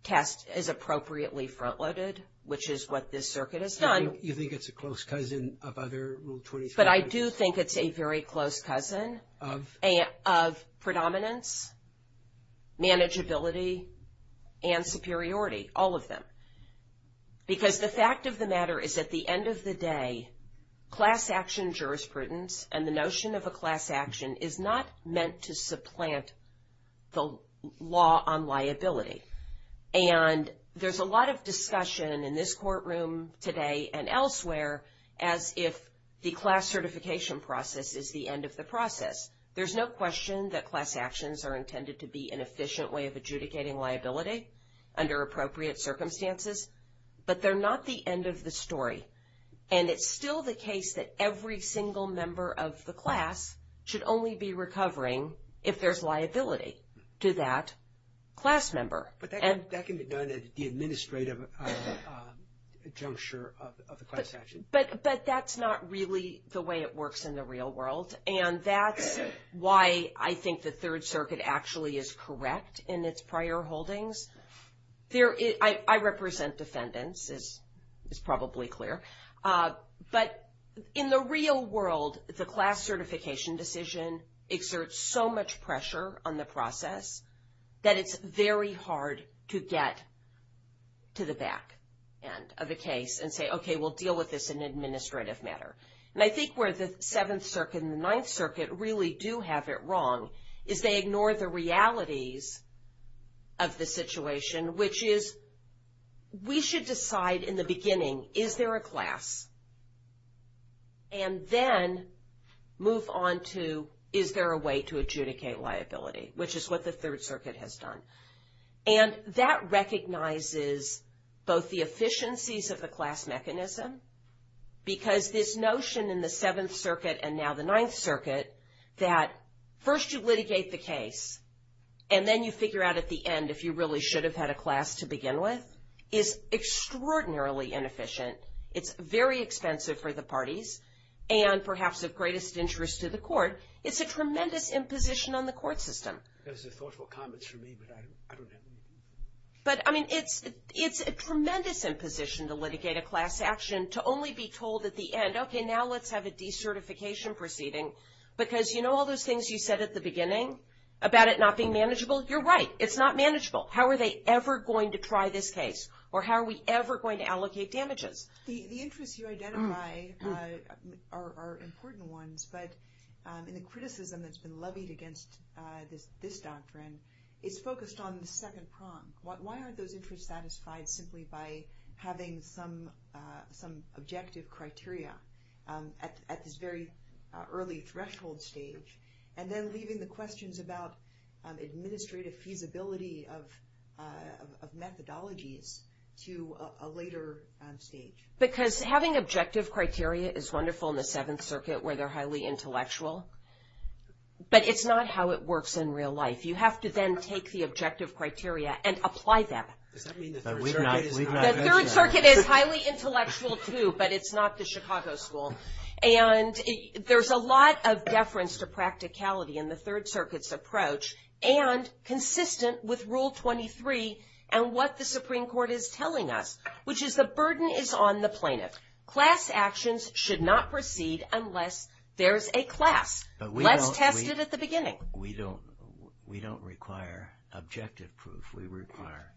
test is appropriately front-loaded, which is what this circuit has done. You think it's a close cousin of other Rule 23 cases? But I do think it's a very close cousin of predominance, manageability, and superiority, all of them. Because the fact of the matter is at the end of the day, class action jurisprudence and the notion of a class action is not meant to supplant the law on liability. And there's a lot of discussion in this courtroom today and elsewhere as if the class certification process is the end of the process. There's no question that class actions are intended to be an efficient way of adjudicating liability under appropriate circumstances, but they're not the end of the story. And it's still the case that every single member of the class should only be recovering if there's liability to that class member. But that can be done at the administrative juncture of the class action. But that's not really the way it works in the real world, and that's why I think the Third Circuit actually is correct in its prior holdings. I represent defendants, it's probably clear. But in the real world, the class certification decision exerts so much pressure on the process that it's very hard to get to the back end of the case and say, okay, we'll deal with this in an administrative matter. And I think where the Seventh Circuit and the Ninth Circuit really do have it wrong is they ignore the realities of the situation, which is we should decide in the beginning, is there a class? And then move on to is there a way to adjudicate liability, which is what the Third Circuit has done. And that recognizes both the efficiencies of the class mechanism, because this notion in the Seventh Circuit and now the Ninth Circuit, that first you litigate the case, and then you figure out at the end if you really should have had a class to begin with, is extraordinarily inefficient. It's very expensive for the parties, and perhaps of greatest interest to the court. It's a tremendous imposition on the court system. Those are thoughtful comments from me, but I don't know. But, I mean, it's a tremendous imposition to litigate a class action, to only be told at the end, okay, now let's have a decertification proceeding. Because you know all those things you said at the beginning about it not being manageable? You're right. It's not manageable. How are they ever going to try this case? Or how are we ever going to allocate damages? The interests you identify are important ones, but in the criticism that's been levied against this doctrine, it's focused on the second prong. Why aren't those interests satisfied simply by having some objective criteria at this very early threshold stage, and then leaving the questions about administrative feasibility of methodologies to a later stage? Because having objective criteria is wonderful in the Seventh Circuit, where they're highly intellectual, but it's not how it works in real life. You have to then take the objective criteria and apply them. Does that mean the Third Circuit is highly intellectual? The Third Circuit is highly intellectual too, but it's not the Chicago school. And there's a lot of deference to practicality in the Third Circuit's approach, and consistent with Rule 23 and what the Supreme Court is telling us, which is the burden is on the plaintiff. Class actions should not proceed unless there's a class. Let's test it at the beginning. We don't require objective proof. We require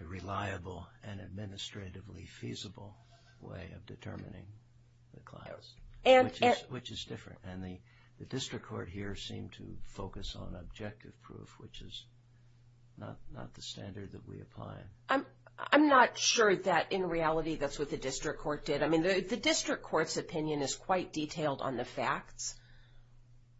a reliable and administratively feasible way of determining the class, which is different. And the district court here seemed to focus on objective proof, which is not the standard that we apply. I'm not sure that in reality that's what the district court did. I mean, the district court's opinion is quite detailed on the facts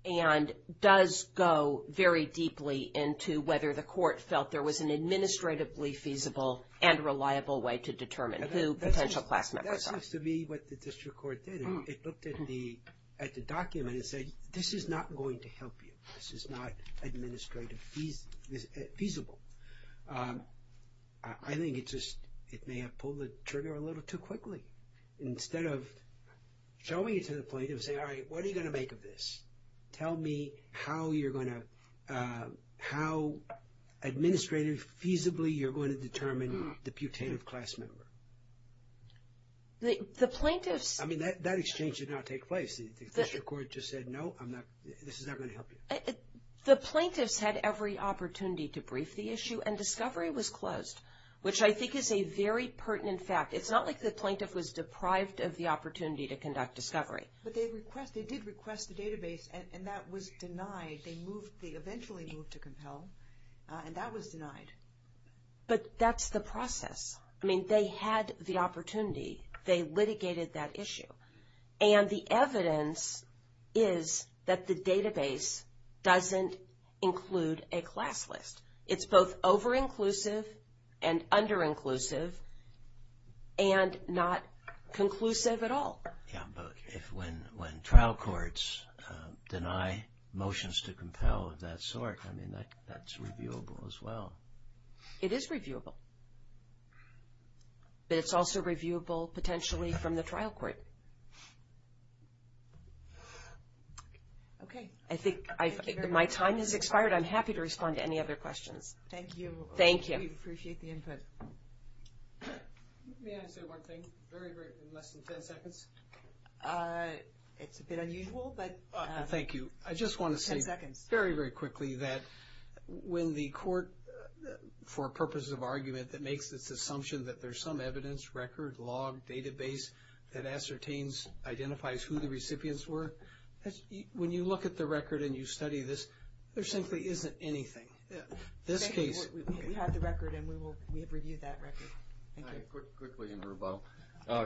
and does go very deeply into whether the court felt there was an administratively feasible and reliable way to determine who potential class members are. That seems to be what the district court did. It looked at the document and said, this is not going to help you. This is not administrative feasible. I think it just may have pulled the trigger a little too quickly. Instead of showing it to the plaintiff and saying, all right, what are you going to make of this? Tell me how you're going to – how administrative feasibly you're going to determine the putative class member. The plaintiffs – I mean, that exchange did not take place. The district court just said, no, this is not going to help you. The plaintiffs had every opportunity to brief the issue, and discovery was closed, which I think is a very pertinent fact. It's not like the plaintiff was deprived of the opportunity to conduct discovery. But they did request the database, and that was denied. They eventually moved to compel, and that was denied. But that's the process. I mean, they had the opportunity. They litigated that issue. And the evidence is that the database doesn't include a class list. It's both over-inclusive and under-inclusive and not conclusive at all. Yeah, but when trial courts deny motions to compel of that sort, I mean, that's reviewable as well. It is reviewable. But it's also reviewable potentially from the trial court. Okay. I think my time has expired. I'm happy to respond to any other questions. Thank you. Thank you. We appreciate the input. May I say one thing? Very briefly, in less than 10 seconds. It's a bit unusual, but 10 seconds. Thank you. I just want to say very, very quickly that when the court, for purposes of argument, that makes this assumption that there's some evidence, record, log, database, that ascertains, identifies who the recipients were, when you look at the record and you study this, there simply isn't anything. We have the record, and we have reviewed that record. All right. Quickly, and we're about.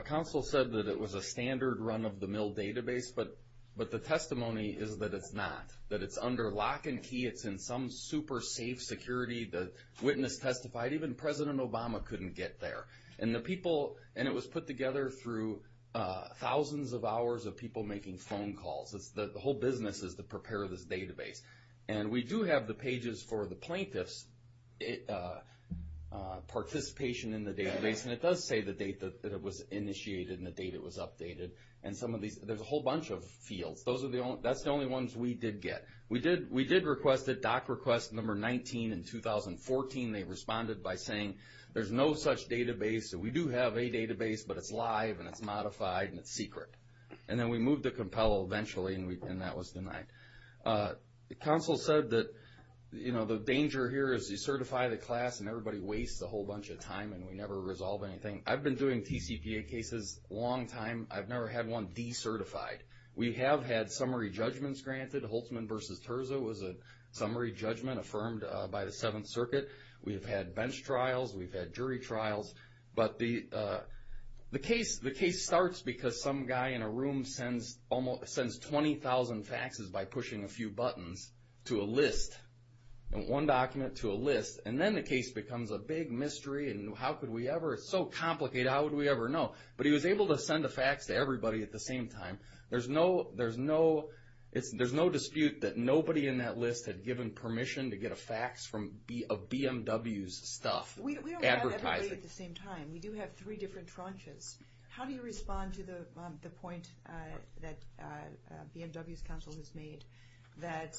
Counsel said that it was a standard run-of-the-mill database, but the testimony is that it's not, that it's under lock and key. It's in some super safe security. The witness testified. Even President Obama couldn't get there. And the people, and it was put together through thousands of hours of people making phone calls. The whole business is to prepare this database. And we do have the pages for the plaintiff's participation in the database, and it does say the date that it was initiated and the date it was updated. And some of these, there's a whole bunch of fields. That's the only ones we did get. We did request it, DOC request number 19 in 2014. They responded by saying there's no such database. We do have a database, but it's live and it's modified and it's secret. And then we moved to COMPEL eventually, and that was denied. Counsel said that, you know, the danger here is you certify the class and everybody wastes a whole bunch of time and we never resolve anything. I've been doing TCPA cases a long time. I've never had one decertified. We have had summary judgments granted. Holtzman v. Terza was a summary judgment affirmed by the Seventh Circuit. We have had bench trials. We've had jury trials. But the case starts because some guy in a room sends 20,000 faxes by pushing a few buttons to a list, one document to a list, and then the case becomes a big mystery and how could we ever? It's so complicated, how would we ever know? But he was able to send a fax to everybody at the same time. There's no dispute that nobody in that list had given permission to get a fax of BMW's stuff advertising. We don't have everybody at the same time. We do have three different tranches. How do you respond to the point that BMW's counsel has made that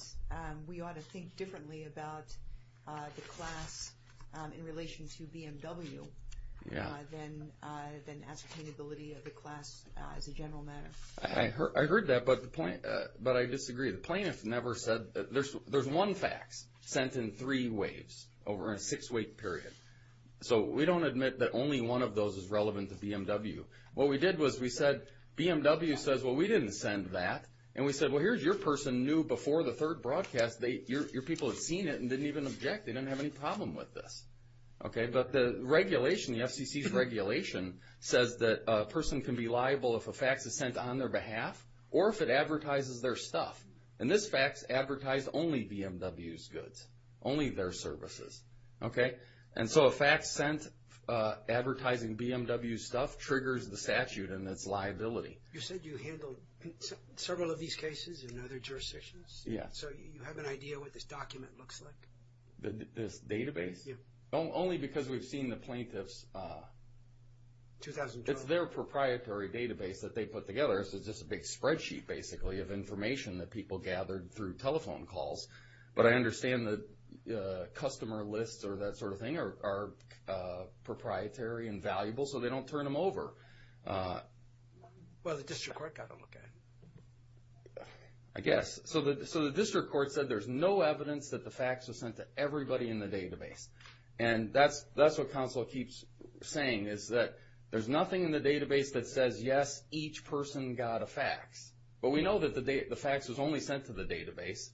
we ought to think differently about the class in relation to BMW than ascertainability of the class as a general matter? I heard that, but I disagree. The plaintiff never said that there's one fax sent in three waves over a six-week period. So we don't admit that only one of those is relevant to BMW. What we did was we said, BMW says, well, we didn't send that. And we said, well, here's your person new before the third broadcast. Your people have seen it and didn't even object. They didn't have any problem with this. But the regulation, the FCC's regulation, says that a person can be liable if a fax is sent on their behalf or if it advertises their stuff. And this fax advertised only BMW's goods, only their services. And so a fax sent advertising BMW's stuff triggers the statute and its liability. You said you handled several of these cases in other jurisdictions? Yes. So you have an idea what this document looks like? This database? Yes. Only because we've seen the plaintiff's... It's their proprietary database that they put together. So it's just a big spreadsheet, basically, of information that people gathered through telephone calls. But I understand the customer lists or that sort of thing are proprietary and valuable so they don't turn them over. Well, the district court got a look at it. I guess. So the district court said there's no evidence that the fax was sent to everybody in the database. And that's what counsel keeps saying is that there's nothing in the database that says, yes, each person got a fax. But we know that the fax was only sent to the database.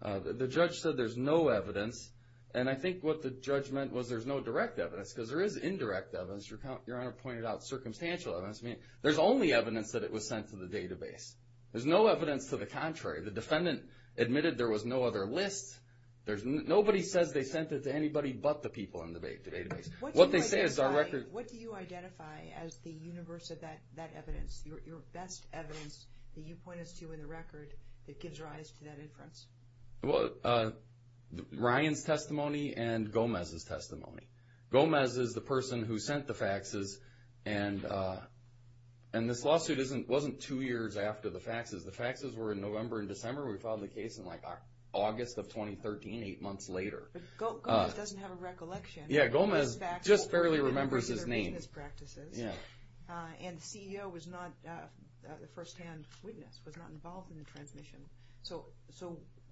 The judge said there's no evidence. And I think what the judge meant was there's no direct evidence because there is indirect evidence. Your Honor pointed out circumstantial evidence. I mean, there's only evidence that it was sent to the database. There's no evidence to the contrary. The defendant admitted there was no other list. Nobody says they sent it to anybody but the people in the database. What do you identify as the universe of that evidence, your best evidence that you point us to in the record that gives rise to that inference? Ryan's testimony and Gomez's testimony. Gomez is the person who sent the faxes. And this lawsuit wasn't two years after the faxes. The faxes were in November and December. We filed the case in, like, August of 2013, eight months later. Gomez doesn't have a recollection. Yeah, Gomez just barely remembers his name. And the CEO was not a firsthand witness, was not involved in the transmission. So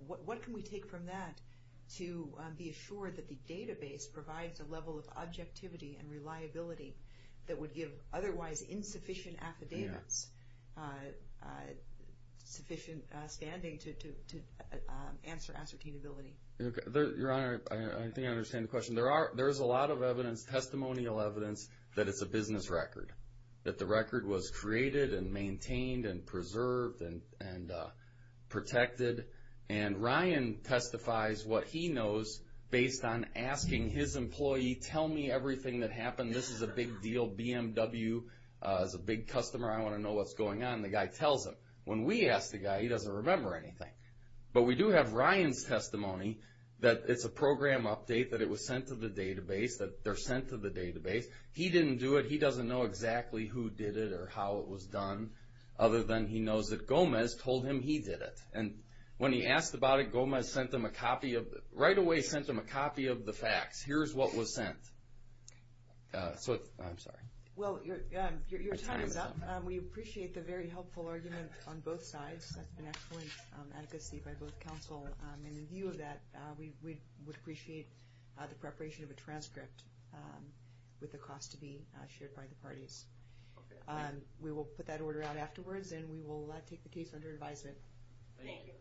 what can we take from that to be assured that the database provides a level of objectivity and reliability that would give otherwise insufficient affidavits sufficient standing to answer ascertainability? Your Honor, I think I understand the question. There is a lot of evidence, testimonial evidence, that it's a business record, that the record was created and maintained and preserved and protected. And Ryan testifies what he knows based on asking his employee, tell me everything that happened. This is a big deal. BMW is a big customer. I want to know what's going on. And the guy tells him. When we ask the guy, he doesn't remember anything. But we do have Ryan's testimony that it's a program update, that it was sent to the database, that they're sent to the database. He didn't do it. He doesn't know exactly who did it or how it was done, other than he knows that Gomez told him he did it. And when he asked about it, Gomez sent him a copy of the facts. Here's what was sent. I'm sorry. Well, your time is up. We appreciate the very helpful argument on both sides. An excellent advocacy by both counsel. And in view of that, we would appreciate the preparation of a transcript with the cost to be shared by the parties. We will put that order out afterwards, and we will take the case under advisement.